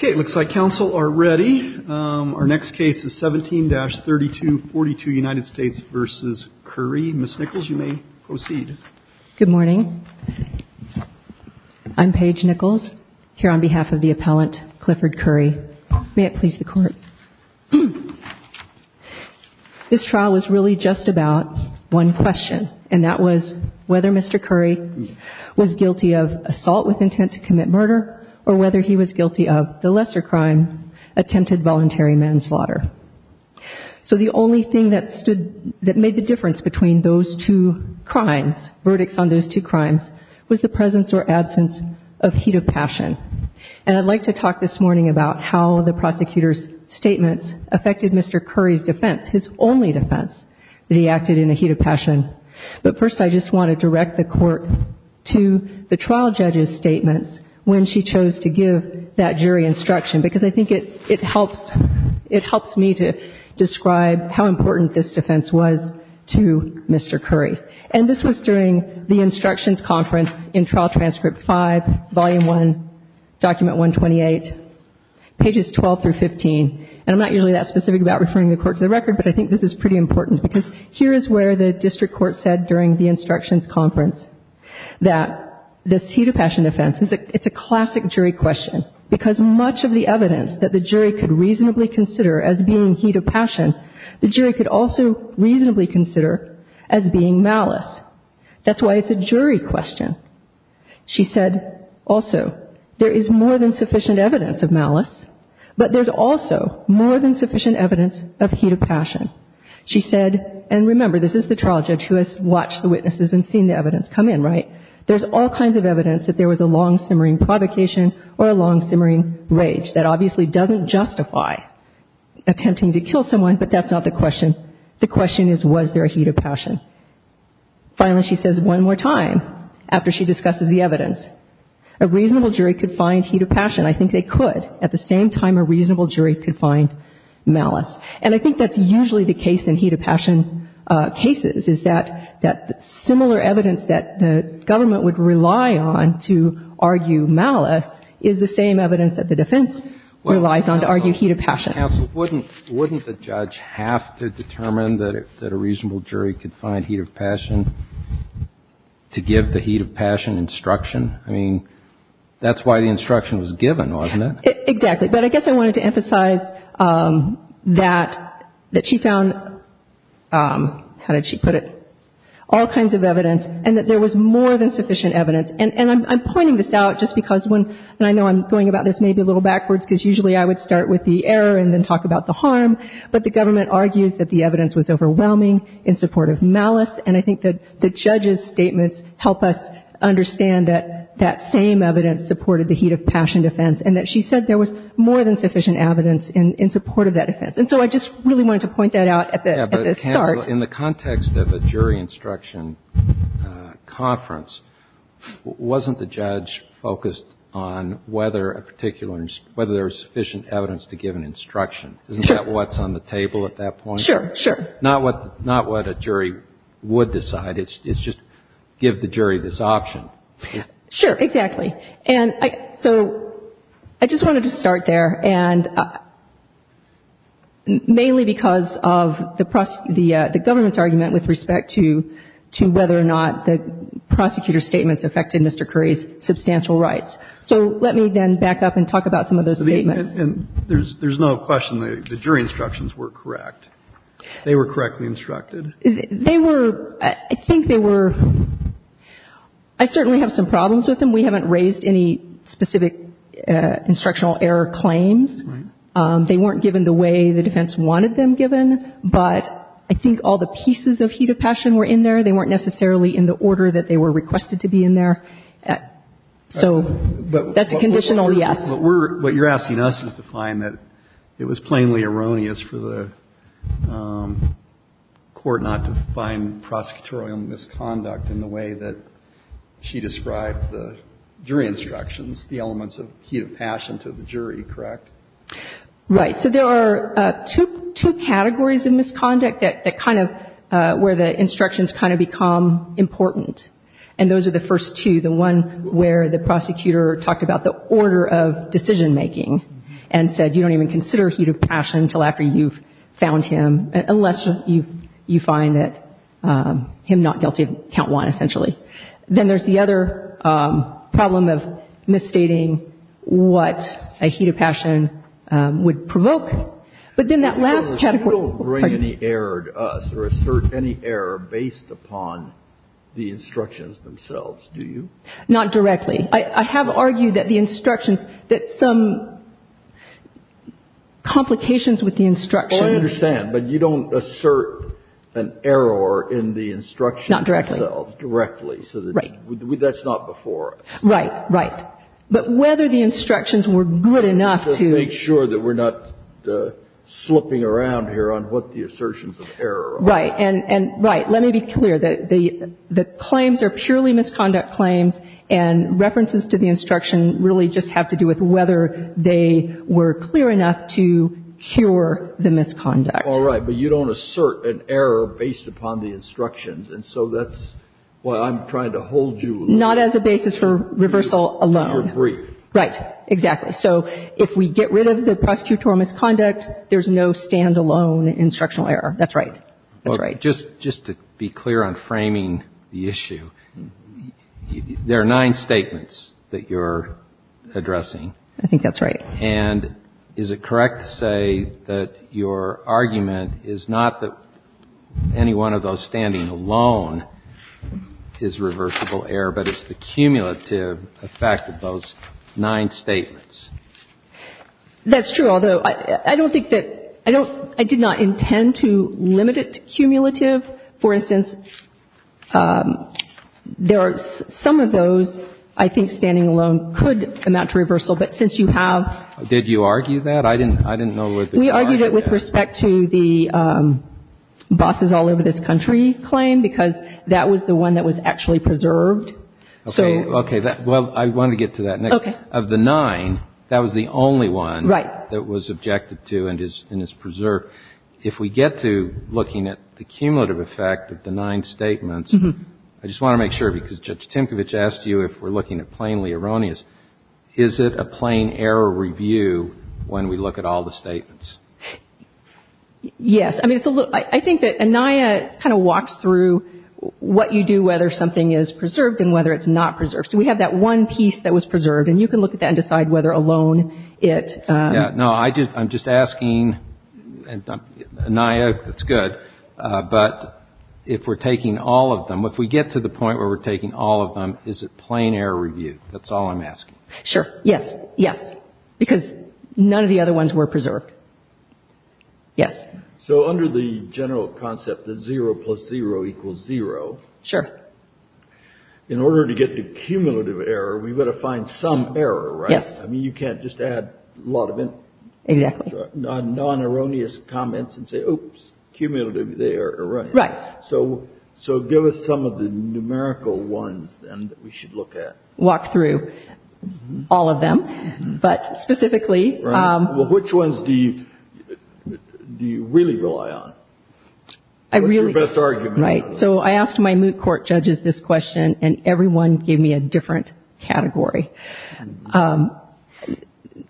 v. Currie. Ms. Nichols, you may proceed. Good morning. I'm Paige Nichols, here on behalf of the appellant Clifford Currie. May it please the Court. This trial was really just about one question, and that was whether Mr. Currie was guilty of assault with intent to commit murder, or whether he was guilty of assault with intent to commit murder. The lesser crime attempted voluntary manslaughter. So the only thing that made the difference between those two crimes, verdicts on those two crimes, was the presence or absence of heat of passion. And I'd like to talk this morning about how the prosecutor's statements affected Mr. Currie's defense, his only defense, that he acted in a heat of passion. But first, I just want to direct the Court to the trial judge's statements when she chose to give that jury instruction, because I think it helps me to describe how important this defense was to Mr. Currie. And this was during the instructions conference in Trial Transcript 5, Volume 1, Document 128, pages 12 through 15. And I'm not usually that specific about referring the Court to the record, but I think this is pretty important, because here is where the district court said during the instructions conference that this heat of passion defense is a classic jury question. Because much of the evidence that the jury could reasonably consider as being heat of passion, the jury could also reasonably consider as being malice. That's why it's a jury question. She said also, there is more than sufficient evidence of malice, but there's also more than sufficient evidence of heat of passion. She said, and remember, this is the trial judge who has watched the witnesses and seen the evidence come in, right? There's all kinds of evidence that there was a long-simmering provocation or a long-simmering rage. That obviously doesn't justify attempting to kill someone, but that's not the question. The question is, was there a heat of passion. Finally, she says one more time, after she discusses the evidence, a reasonable jury could find heat of passion. I think they could. At the same time, a reasonable jury could find malice. And I think that's usually the case in heat of passion cases, is that the similar evidence that the government would rely on to argue malice is the same evidence that the defense relies on to argue heat of passion. Counsel, wouldn't the judge have to determine that a reasonable jury could find heat of passion to give the heat of passion instruction? I mean, that's why the instruction was given, wasn't it? Exactly. But I guess I wanted to emphasize that she found, how did she put it, all kinds of evidence and that there was more than sufficient evidence. And I'm pointing this out just because when, and I know I'm going about this maybe a little backwards, because usually I would start with the error and then talk about the harm. But the government argues that the evidence was overwhelming in support of malice, and I think that the judge's statements help us understand that that same evidence supported the heat of passion defense, and that she said there was more than sufficient evidence in support of that offense. And so I just really wanted to point that out at the start. In the context of a jury instruction conference, wasn't the judge focused on whether a particular, whether there was sufficient evidence to give an instruction? Sure. Isn't that what's on the table at that point? Sure, sure. Not what a jury would decide. It's just give the jury this option. Sure, exactly. Okay. And so I just wanted to start there. And mainly because of the government's argument with respect to whether or not the prosecutor's statements affected Mr. Curry's substantial rights. So let me then back up and talk about some of those statements. There's no question the jury instructions were correct. They were correctly instructed. They were, I think they were. I certainly have some problems with them. We haven't raised any specific instructional error claims. Right. They weren't given the way the defense wanted them given. But I think all the pieces of heat of passion were in there. They weren't necessarily in the order that they were requested to be in there. So that's a conditional yes. But we're, what you're asking us is to find that it was plainly erroneous for the court not to find prosecutorial misconduct in the way that she described the jury instructions, the elements of heat of passion to the jury, correct? Right. So there are two categories of misconduct that kind of where the instructions kind of become important. And those are the first two. The one where the prosecutor talked about the order of decision making and said you don't even consider heat of passion until after you've him not guilty of count one essentially. Then there's the other problem of misstating what a heat of passion would provoke. But then that last category. You don't bring any error to us or assert any error based upon the instructions themselves, do you? Not directly. I have argued that the instructions, that some complications with the instructions. Well, I understand. But you don't assert an error in the instructions themselves. Not directly. Directly. Right. That's not before us. Right. Right. But whether the instructions were good enough to. Just make sure that we're not slipping around here on what the assertions of error are. Right. And right. Let me be clear that the claims are purely misconduct claims and references to the instruction really just have to do with whether they were clear enough to cure the misconduct. All right. But you don't assert an error based upon the instructions. And so that's why I'm trying to hold you. Not as a basis for reversal alone. To your brief. Right. Exactly. So if we get rid of the prosecutorial misconduct, there's no stand-alone instructional error. That's right. That's right. Just to be clear on framing the issue, there are nine statements that you're addressing. I think that's right. And is it correct to say that your argument is not that any one of those standing alone is reversible error, but it's the cumulative effect of those nine statements? That's true, although I don't think that – I don't – I did not intend to limit it to cumulative. For instance, there are – some of those I think standing alone could amount to reversal. But since you have – Did you argue that? I didn't know that you argued that. We argued it with respect to the bosses all over this country claim, because that was the one that was actually preserved. So – Okay. Well, I want to get to that next. Okay. Because of the nine, that was the only one that was objected to and is preserved. If we get to looking at the cumulative effect of the nine statements, I just want to make sure, because Judge Timkovich asked you if we're looking at plainly erroneous. Is it a plain error review when we look at all the statements? Yes. I mean, it's a little – I think that ANIA kind of walks through what you do, whether something is preserved and whether it's not preserved. So we have that one piece that was preserved, and you can look at that and decide whether alone it – No, I'm just asking – ANIA, that's good. But if we're taking all of them, if we get to the point where we're taking all of them, is it plain error review? That's all I'm asking. Sure. Yes. Yes. Because none of the other ones were preserved. Yes. So under the general concept that zero plus zero equals zero – Sure. In order to get to cumulative error, we've got to find some error, right? Yes. I mean, you can't just add a lot of non-erroneous comments and say, oops, cumulative error. Right. So give us some of the numerical ones, then, that we should look at. Walk through all of them, but specifically – Right. Well, which ones do you really rely on? I really – What's your best argument? Right. So I asked my moot court judges this question, and everyone gave me a different category.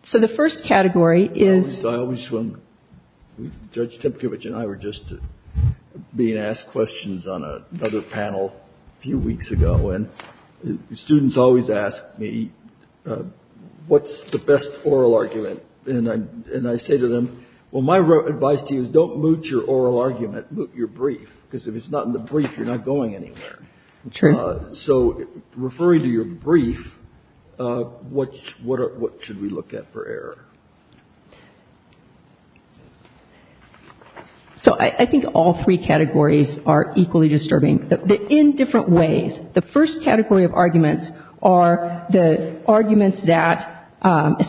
So the first category is – I always – Judge Tepkevich and I were just being asked questions on another panel a few weeks ago, and the students always ask me, what's the best oral argument? And I say to them, well, my advice to you is don't moot your oral argument, moot your brief, because if it's not in the brief, you're not going anywhere. True. So referring to your brief, what should we look at for error? So I think all three categories are equally disturbing. In different ways. The first category of arguments are the arguments that,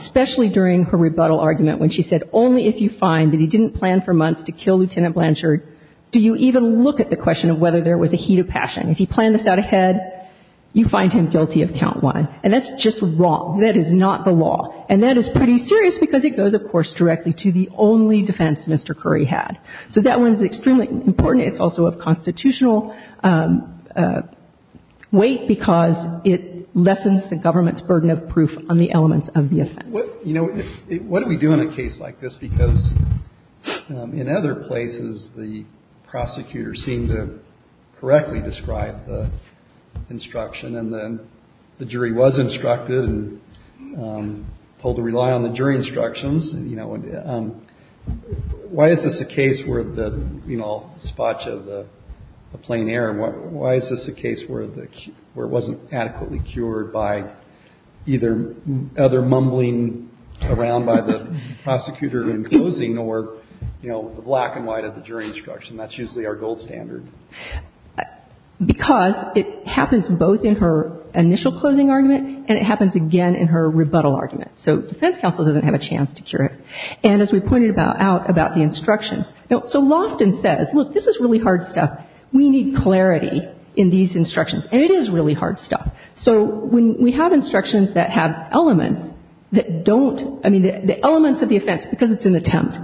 especially during her rebuttal argument when she said only if you find that he didn't plan for months to kill Lieutenant Blanchard, do you even look at the question of whether there was a heat of passion. If he planned this out ahead, you find him guilty of count one. And that's just wrong. That is not the law. And that is pretty serious because it goes, of course, directly to the only defense Mr. Curry had. So that one is extremely important. It's also of constitutional weight because it lessens the government's burden of proof on the elements of the offense. What do we do in a case like this? Because in other places, the prosecutor seemed to correctly describe the instruction and then the jury was instructed and told to rely on the jury instructions. Why is this a case where the spot of the plain error? Why is this a case where it wasn't adequately cured by either other mumbling around by the prosecutor in closing or, you know, the black and white of the jury instruction? That's usually our gold standard. Because it happens both in her initial closing argument and it happens again in her rebuttal argument. So defense counsel doesn't have a chance to cure it. And as we pointed out about the instructions. Now, so Loftin says, look, this is really hard stuff. We need clarity in these instructions. And it is really hard stuff. So when we have instructions that have elements that don't, I mean, the elements of the offense, because it's an attempt,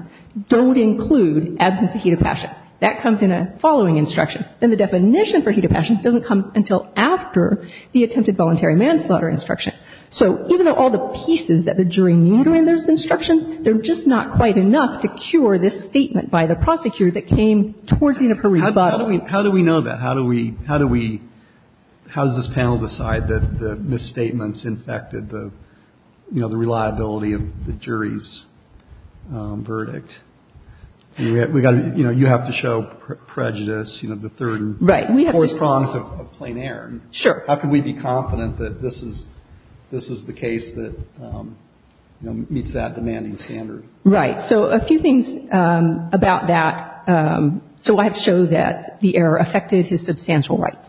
don't include absence of heat of passion. That comes in a following instruction. Then the definition for heat of passion doesn't come until after the attempted voluntary manslaughter instruction. So even though all the pieces that the jury knew during those instructions, they're just not quite enough to cure this statement by the prosecutor that came towards the end of her rebuttal. How do we know that? How do we, how does this panel decide that the misstatements infected the, you know, the reliability of the jury's verdict? We've got to, you know, you have to show prejudice, you know, the third and fourth prongs of plain air. Sure. How can we be confident that this is, this is the case that meets that demanding standard? Right. So a few things about that. So I have to show that the error affected his substantial rights.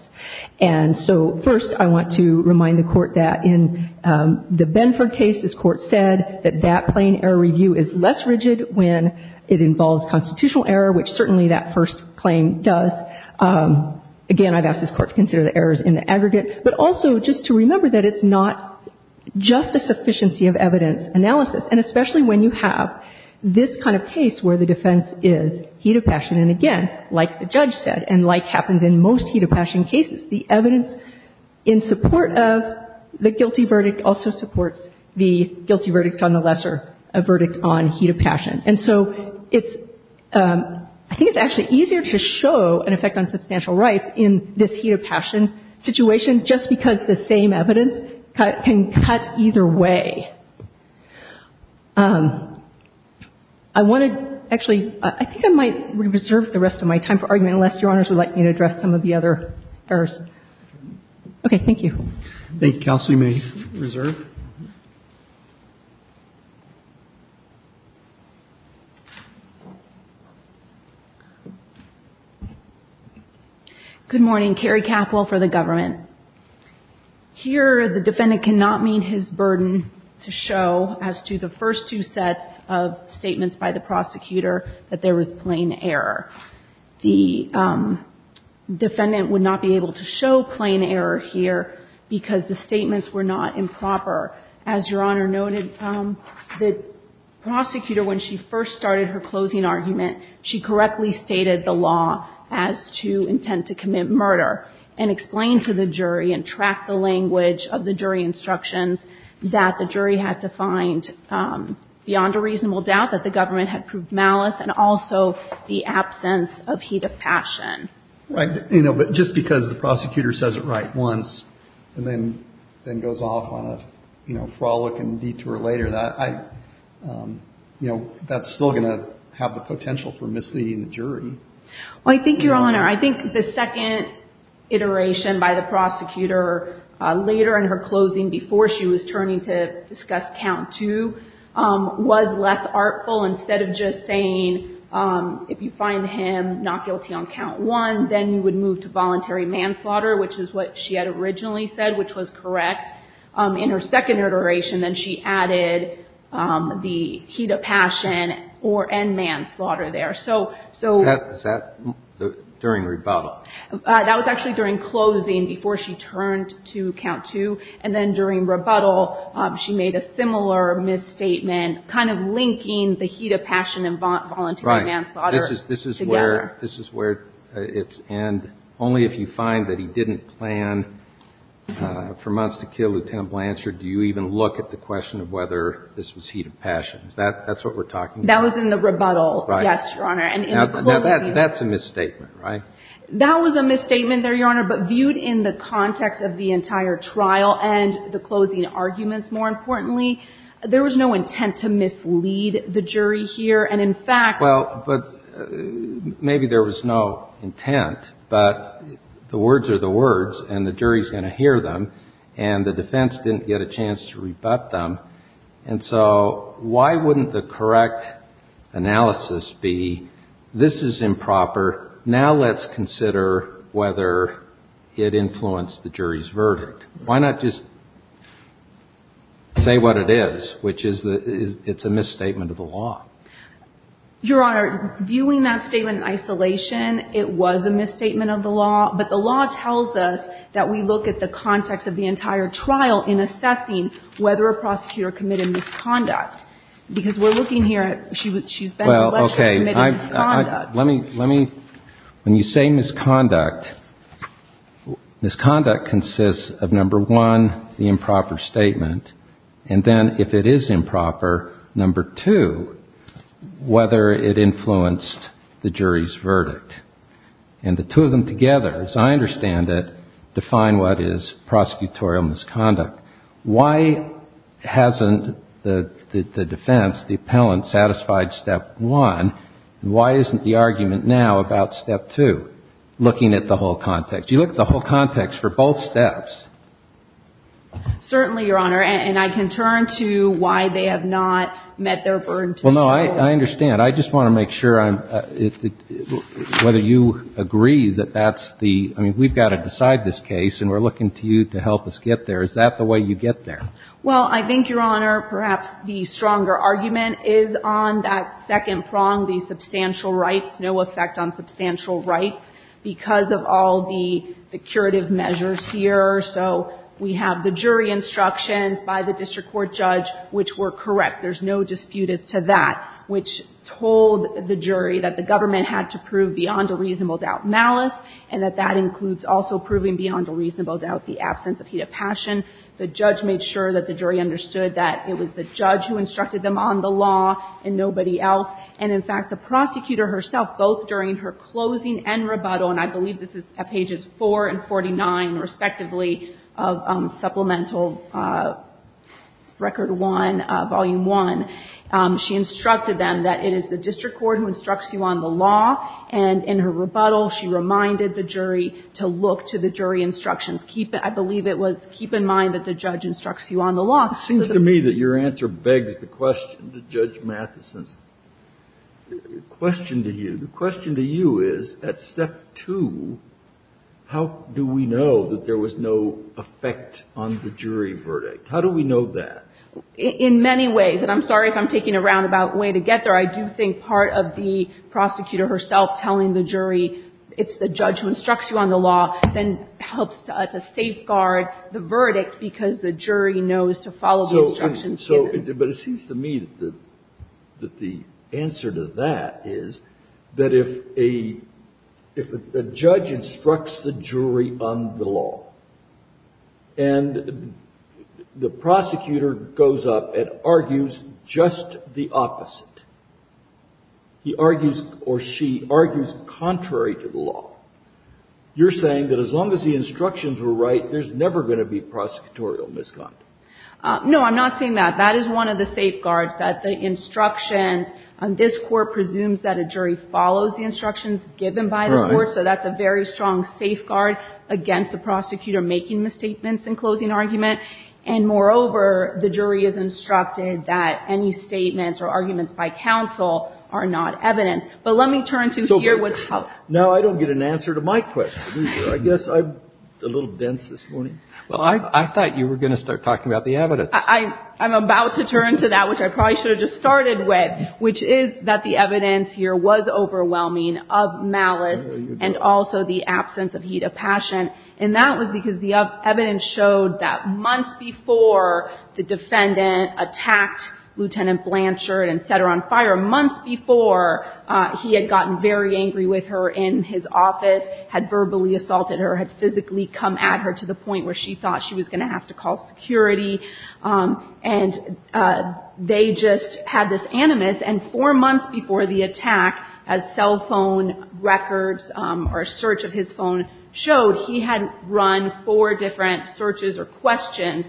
And so first I want to remind the court that in the Benford case, this court said that that plain error review is less rigid when it involves constitutional error, which certainly that first claim does. Again, I've asked this court to consider the errors in the aggregate. But also just to remember that it's not just a sufficiency of evidence analysis. And especially when you have this kind of case where the defense is heat of passion. And again, like the judge said, and like happens in most heat of passion cases, the evidence in support of the guilty verdict also supports the guilty verdict on the lesser verdict on heat of passion. And so it's, I think it's actually easier to show an effect on substantial rights in this heat of passion situation just because the same evidence can cut either way. I want to actually, I think I might reserve the rest of my time for argument unless Your Honors would like me to address some of the other errors. Okay. Thank you. Thank you, counsel. You may reserve. Good morning. Carrie Capple for the government. Here the defendant cannot meet his burden to show as to the first two sets of statements by the prosecutor that there was plain error. The defendant would not be able to show plain error here because the statements were not improper. As Your Honor noted, the prosecutor, when she first started her closing argument, she correctly stated the law as to intent to commit murder and explained to the jury and tracked the language of the jury instructions that the jury had to find beyond a reasonable doubt that the government had proved malice and also the absence of heat of passion. Right. But just because the prosecutor says it right once and then goes off on a frolic and detour later, that's still going to have the potential for misleading the jury. Well, I think, Your Honor, I think the second iteration by the prosecutor later in her was less artful. Instead of just saying, if you find him not guilty on count one, then you would move to voluntary manslaughter, which is what she had originally said, which was correct. In her second iteration, then she added the heat of passion and manslaughter there. Is that during rebuttal? That was actually during closing, before she turned to count two. And then during rebuttal, she made a similar misstatement, kind of linking the heat of passion and voluntary manslaughter together. Right. This is where it's end. Only if you find that he didn't plan for months to kill Lieutenant Blanchard, do you even look at the question of whether this was heat of passion. Is that what we're talking about? That was in the rebuttal, yes, Your Honor. Now, that's a misstatement, right? That was a misstatement there, Your Honor. But viewed in the context of the entire trial and the closing arguments, more importantly, there was no intent to mislead the jury here. And in fact — Well, but maybe there was no intent. But the words are the words, and the jury's going to hear them. And the defense didn't get a chance to rebut them. And so why wouldn't the correct analysis be, this is improper. Now let's consider whether it influenced the jury's verdict. Why not just say what it is, which is that it's a misstatement of the law? Your Honor, viewing that statement in isolation, it was a misstatement of the law. But the law tells us that we look at the context of the entire trial in assessing whether a prosecutor committed misconduct. Because we're looking here at she's been elected and committed misconduct. When you say misconduct, misconduct consists of, number one, the improper statement. And then if it is improper, number two, whether it influenced the jury's verdict. And the two of them together, as I understand it, define what is prosecutorial misconduct. Why hasn't the defense, the appellant, satisfied step one? And why isn't the argument now about step two, looking at the whole context? You look at the whole context for both steps. Certainly, Your Honor. And I can turn to why they have not met their burden to the jury. Well, no, I understand. I just want to make sure whether you agree that that's the – I mean, we've got to decide this case. And we're looking to you to help us get there. Is that the way you get there? Well, I think, Your Honor, perhaps the stronger argument is on that second prong, the substantial rights, no effect on substantial rights, because of all the curative measures here. So we have the jury instructions by the district court judge which were correct. There's no dispute as to that, which told the jury that the government had to prove beyond a reasonable doubt malice and that that includes also proving beyond a reasonable doubt the absence of heat of passion. The judge made sure that the jury understood that it was the judge who instructed them on the law and nobody else. And, in fact, the prosecutor herself, both during her closing and rebuttal, and I believe this is at pages 4 and 49, respectively, of Supplemental Record 1, Volume 1, she instructed them that it is the district court who instructs you on the law. And in her rebuttal, she reminded the jury to look to the jury instructions. Keep it. I believe it was keep in mind that the judge instructs you on the law. It seems to me that your answer begs the question to Judge Matheson's question to you. The question to you is, at step two, how do we know that there was no effect on the jury verdict? How do we know that? In many ways. And I'm sorry if I'm taking a roundabout way to get there. I do think part of the prosecutor herself telling the jury it's the judge who instructs you on the law then helps to safeguard the verdict because the jury knows to follow the instructions given. So, but it seems to me that the answer to that is that if a judge instructs the jury on the law and the prosecutor goes up and argues just the opposite, he argues or she argues contrary to the law, you're saying that as long as the instructions were right, there's never going to be prosecutorial misconduct. No. I'm not saying that. That is one of the safeguards, that the instructions. This Court presumes that a jury follows the instructions given by the Court. Right. So that's a very strong safeguard against the prosecutor making misstatements in closing argument. And moreover, the jury is instructed that any statements or arguments by counsel are not evidence. But let me turn to here. Now, I don't get an answer to my question either. I guess I'm a little dense this morning. Well, I thought you were going to start talking about the evidence. I'm about to turn to that, which I probably should have just started with, which is that the evidence here was overwhelming of malice and also the absence of heat of passion. And that was because the evidence showed that months before the defendant attacked Lieutenant Blanchard and set her on fire, months before he had gotten very angry with her in his office, had verbally assaulted her, had physically come at her to the point where she thought she was going to have to call security, and they just had this animus. And four months before the attack, as cell phone records or a search of his phone showed, he had run four different searches or questions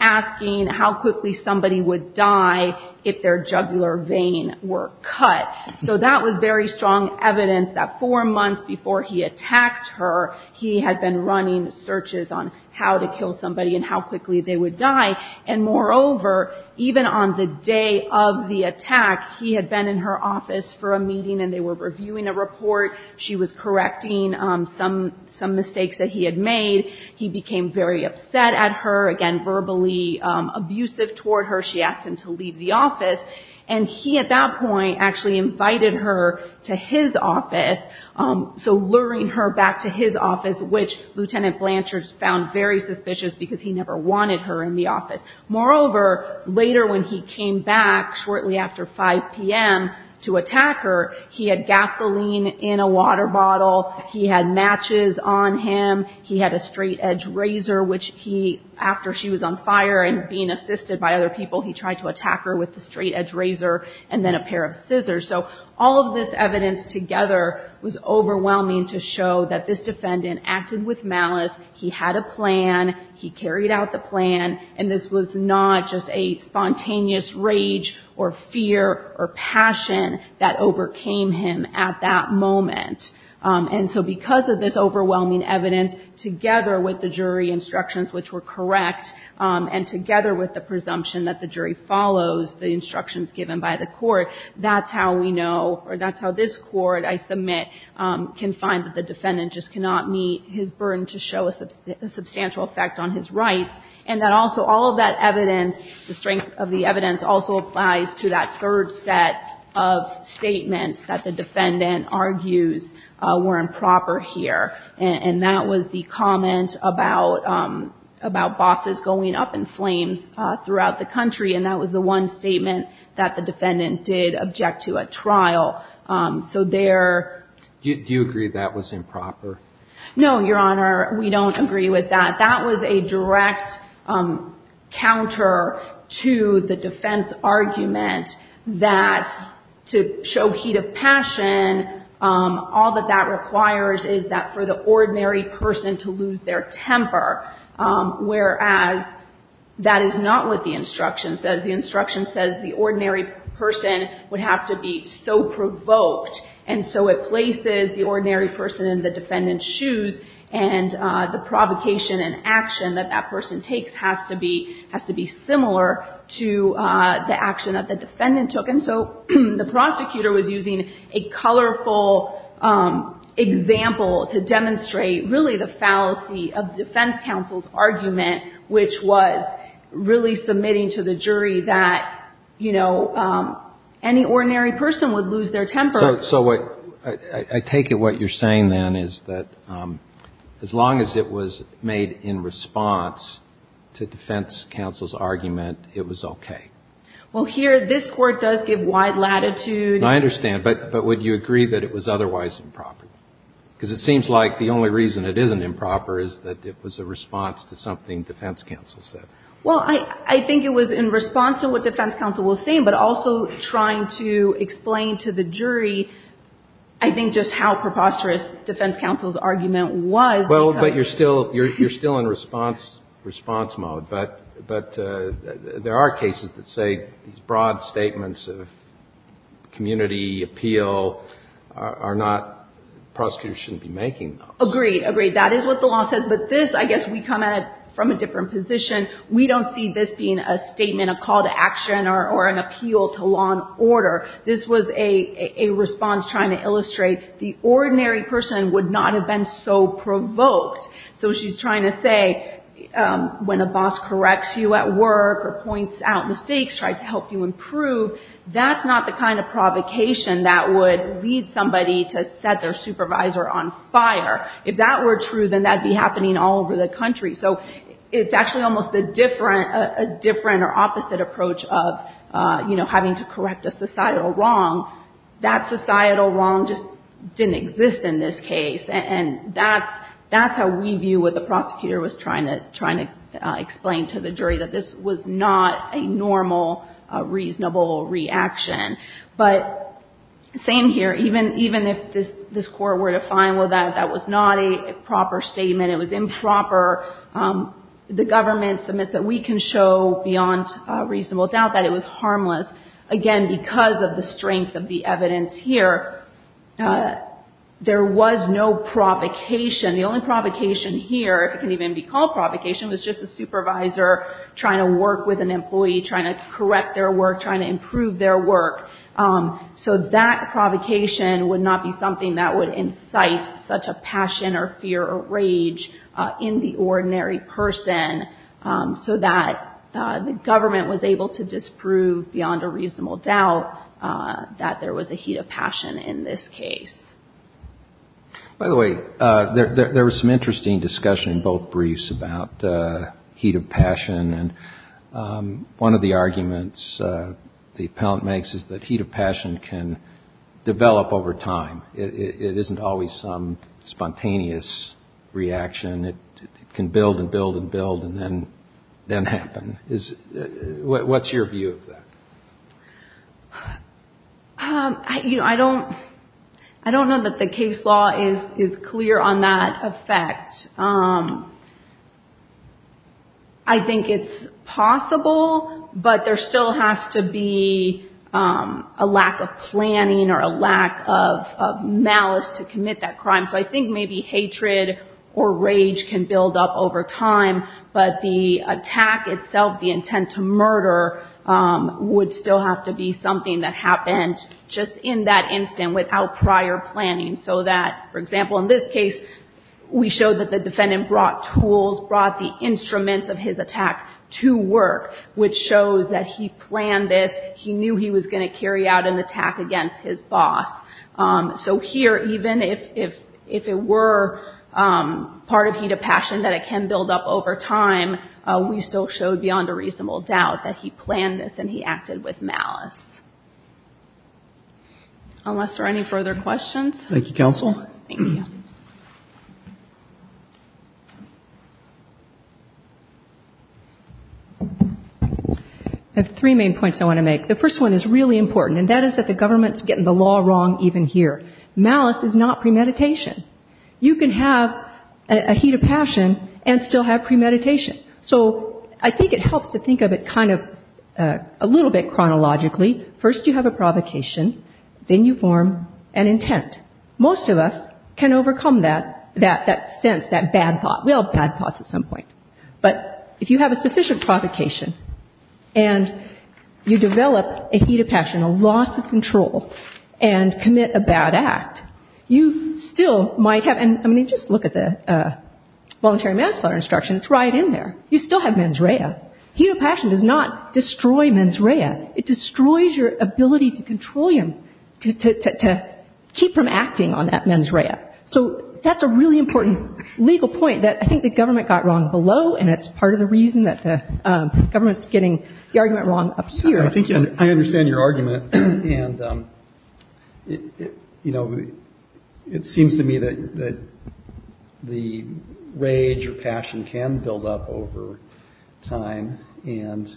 asking how quickly somebody would die if their jugular vein were cut. So that was very strong evidence that four months before he attacked her, he had been running searches on how to kill somebody and how quickly they would die. And moreover, even on the day of the attack, he had been in her office for a meeting and they were reviewing a report. She was correcting some mistakes that he had made. He became very upset at her, again, verbally abusive toward her. She asked him to leave the office. And he, at that point, actually invited her to his office, so luring her back to his office, which Lieutenant Blanchard found very suspicious because he never wanted her in the office. Moreover, later when he came back shortly after 5 p.m. to attack her, he had gasoline in a water bottle. He had matches on him. He had a straight-edge razor, which he, after she was on fire and being assisted by other people, he tried to attack her with the straight-edge razor and then a pair of scissors. So all of this evidence together was overwhelming to show that this defendant acted with malice. He had a plan. He carried out the plan. And this was not just a spontaneous rage or fear or passion that overcame him at that moment. And so because of this overwhelming evidence, together with the jury instructions which were correct, and together with the presumption that the jury follows the instructions given by the court, that's how we know, or that's how this court, I submit, can find that the defendant just cannot meet his burden to show a substantial effect on his rights. And that also all of that evidence, the strength of the evidence, also applies to that third set of statements that the defendant argues were improper here. And that was the comment about bosses going up in flames throughout the country. And that was the one statement that the defendant did object to at trial. So there — Do you agree that was improper? No, Your Honor, we don't agree with that. That was a direct counter to the defense argument that to show heat of passion, all that that requires is that for the ordinary person to lose their temper, whereas that is not what the instruction says. The instruction says the ordinary person would have to be so provoked. And so it places the ordinary person in the defendant's shoes, and the provocation and action that that person takes has to be — has to be similar to the action that the defendant took. And so the prosecutor was using a colorful example to demonstrate really the fallacy of defense counsel's argument, which was really submitting to the jury that, you know, any ordinary person would lose their temper. So what — I take it what you're saying then is that as long as it was made in response to defense counsel's argument, it was okay. Well, here, this Court does give wide latitude. I understand. But would you agree that it was otherwise improper? Because it seems like the only reason it isn't improper is that it was a response to something defense counsel said. Well, I think it was in response to what defense counsel was saying, but also trying to explain to the jury, I think, just how preposterous defense counsel's argument was. Well, but you're still — you're still in response mode. But there are cases that say these broad statements of community, appeal, are not — prosecutors shouldn't be making those. Agreed. Agreed. That is what the law says. But this, I guess we come at it from a different position. We don't see this being a statement, a call to action, or an appeal to law and order. This was a response trying to illustrate the ordinary person would not have been so provoked. So she's trying to say when a boss corrects you at work or points out mistakes, tries to help you improve, that's not the kind of provocation that would lead somebody to set their supervisor on fire. If that were true, then that would be happening all over the country. So it's actually almost a different — a different or opposite approach of, you know, having to correct a societal wrong. That societal wrong just didn't exist in this case. And that's how we view what the prosecutor was trying to explain to the jury, that this was not a normal, reasonable reaction. But same here. Even if this court were to find, well, that was not a proper statement, it was improper the government submits it, we can show beyond reasonable doubt that it was harmless. Again, because of the strength of the evidence here, there was no provocation. The only provocation here, if it can even be called provocation, was just a supervisor trying to work with an employee, trying to correct their work, trying to improve their work. So that provocation would not be something that would incite such a passion or fear or so that the government was able to disprove beyond a reasonable doubt that there was a heat of passion in this case. By the way, there was some interesting discussion in both briefs about heat of passion. And one of the arguments the appellant makes is that heat of passion can develop over time. It isn't always some spontaneous reaction. It can build and build and build and then happen. What's your view of that? I don't know that the case law is clear on that effect. I think it's possible, but there still has to be a lack of planning or a lack of malice to commit that crime. So I think maybe hatred or rage can build up over time, but the attack itself, the intent to murder, would still have to be something that happened just in that instant without prior planning so that, for example, in this case, we showed that the defendant brought tools, brought the instruments of his attack to work, which shows that he planned this. He knew he was going to carry out an attack against his boss. So here, even if it were part of heat of passion that it can build up over time, we still showed beyond a reasonable doubt that he planned this and he acted with malice. Unless there are any further questions? Thank you, counsel. Thank you. I have three main points I want to make. The first one is really important, and that is that the government is getting the law wrong even here. Malice is not premeditation. You can have a heat of passion and still have premeditation. So I think it helps to think of it kind of a little bit chronologically. First you have a provocation. Then you form an intent. Most of us can overcome that sense, that bad thought. We all have bad thoughts at some point. But if you have a sufficient provocation and you develop a heat of passion, a loss of control, and commit a bad act, you still might have and just look at the voluntary manslaughter instruction. It's right in there. You still have mens rea. Heat of passion does not destroy mens rea. It destroys your ability to control him, to keep from acting on that mens rea. So that's a really important legal point that I think the government got wrong below, and it's part of the reason that the government's getting the argument wrong up here. I think I understand your argument. And, you know, it seems to me that the rage or passion can build up over time. And,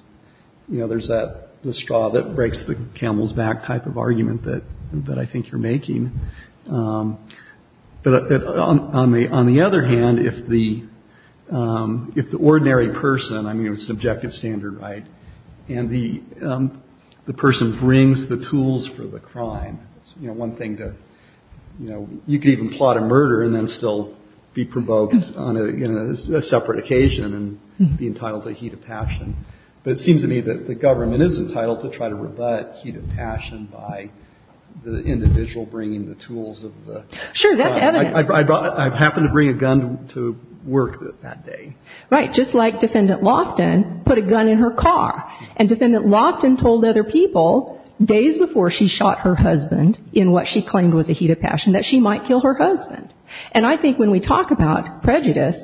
you know, there's the straw that breaks the camel's back type of argument that I think you're making. But on the other hand, if the ordinary person, I mean, it's an objective standard, right, and the person brings the tools for the crime, you know, one thing to, you know, you could even plot a murder and then still be provoked on a separate occasion and be entitled to a heat of passion. But it seems to me that the government is entitled to try to rebut heat of passion by the individual bringing the tools of the crime. Sure, that's evidence. I happened to bring a gun to work that day. Right. Just like Defendant Loftin put a gun in her car. And Defendant Loftin told other people days before she shot her husband in what she claimed was a heat of passion that she might kill her husband. And I think when we talk about prejudice,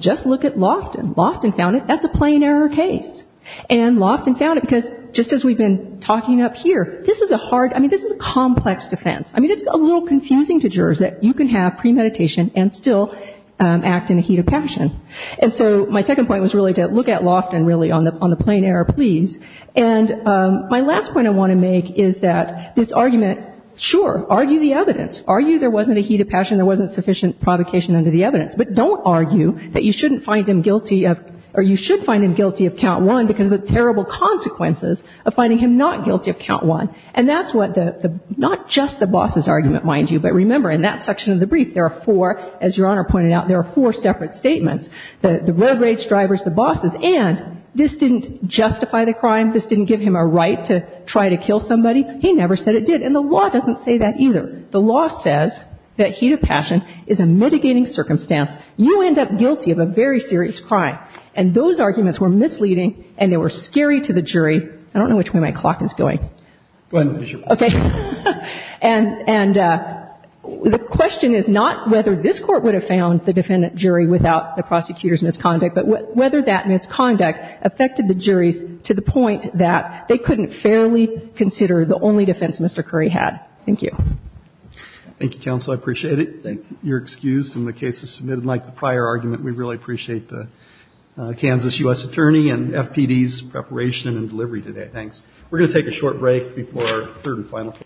just look at Loftin. Loftin found it. That's a plain error case. And Loftin found it because just as we've been talking up here, this is a hard, I mean, this is a complex defense. I mean, it's a little confusing to jurors that you can have premeditation and still act in a heat of passion. And so my second point was really to look at Loftin, really, on the plain error, please. And my last point I want to make is that this argument, sure, argue the evidence. Argue there wasn't a heat of passion, there wasn't sufficient provocation under the evidence. But don't argue that you shouldn't find him guilty of or you should find him guilty of count one because of the terrible consequences of finding him not guilty of count one. And that's what the, not just the boss's argument, mind you, but remember in that section of the brief, there are four, as Your Honor pointed out, there are four separate statements, the road rage drivers, the bosses. And this didn't justify the crime. This didn't give him a right to try to kill somebody. He never said it did. And the law doesn't say that either. The law says that heat of passion is a mitigating circumstance. You end up guilty of a very serious crime. And those arguments were misleading and they were scary to the jury. I don't know which way my clock is going. Go ahead, Ms. Fisher. Okay. And the question is not whether this Court would have found the defendant jury without the prosecutor's misconduct, but whether that misconduct affected the juries to the point that they couldn't fairly consider the only defense Mr. Curry had. Thank you. Thank you, counsel. I appreciate it. Thank you. Your excuse in the case is submitted like the prior argument. We really appreciate the Kansas U.S. attorney and FPD's preparation and delivery Thanks. We're going to take a short break before our third and final case.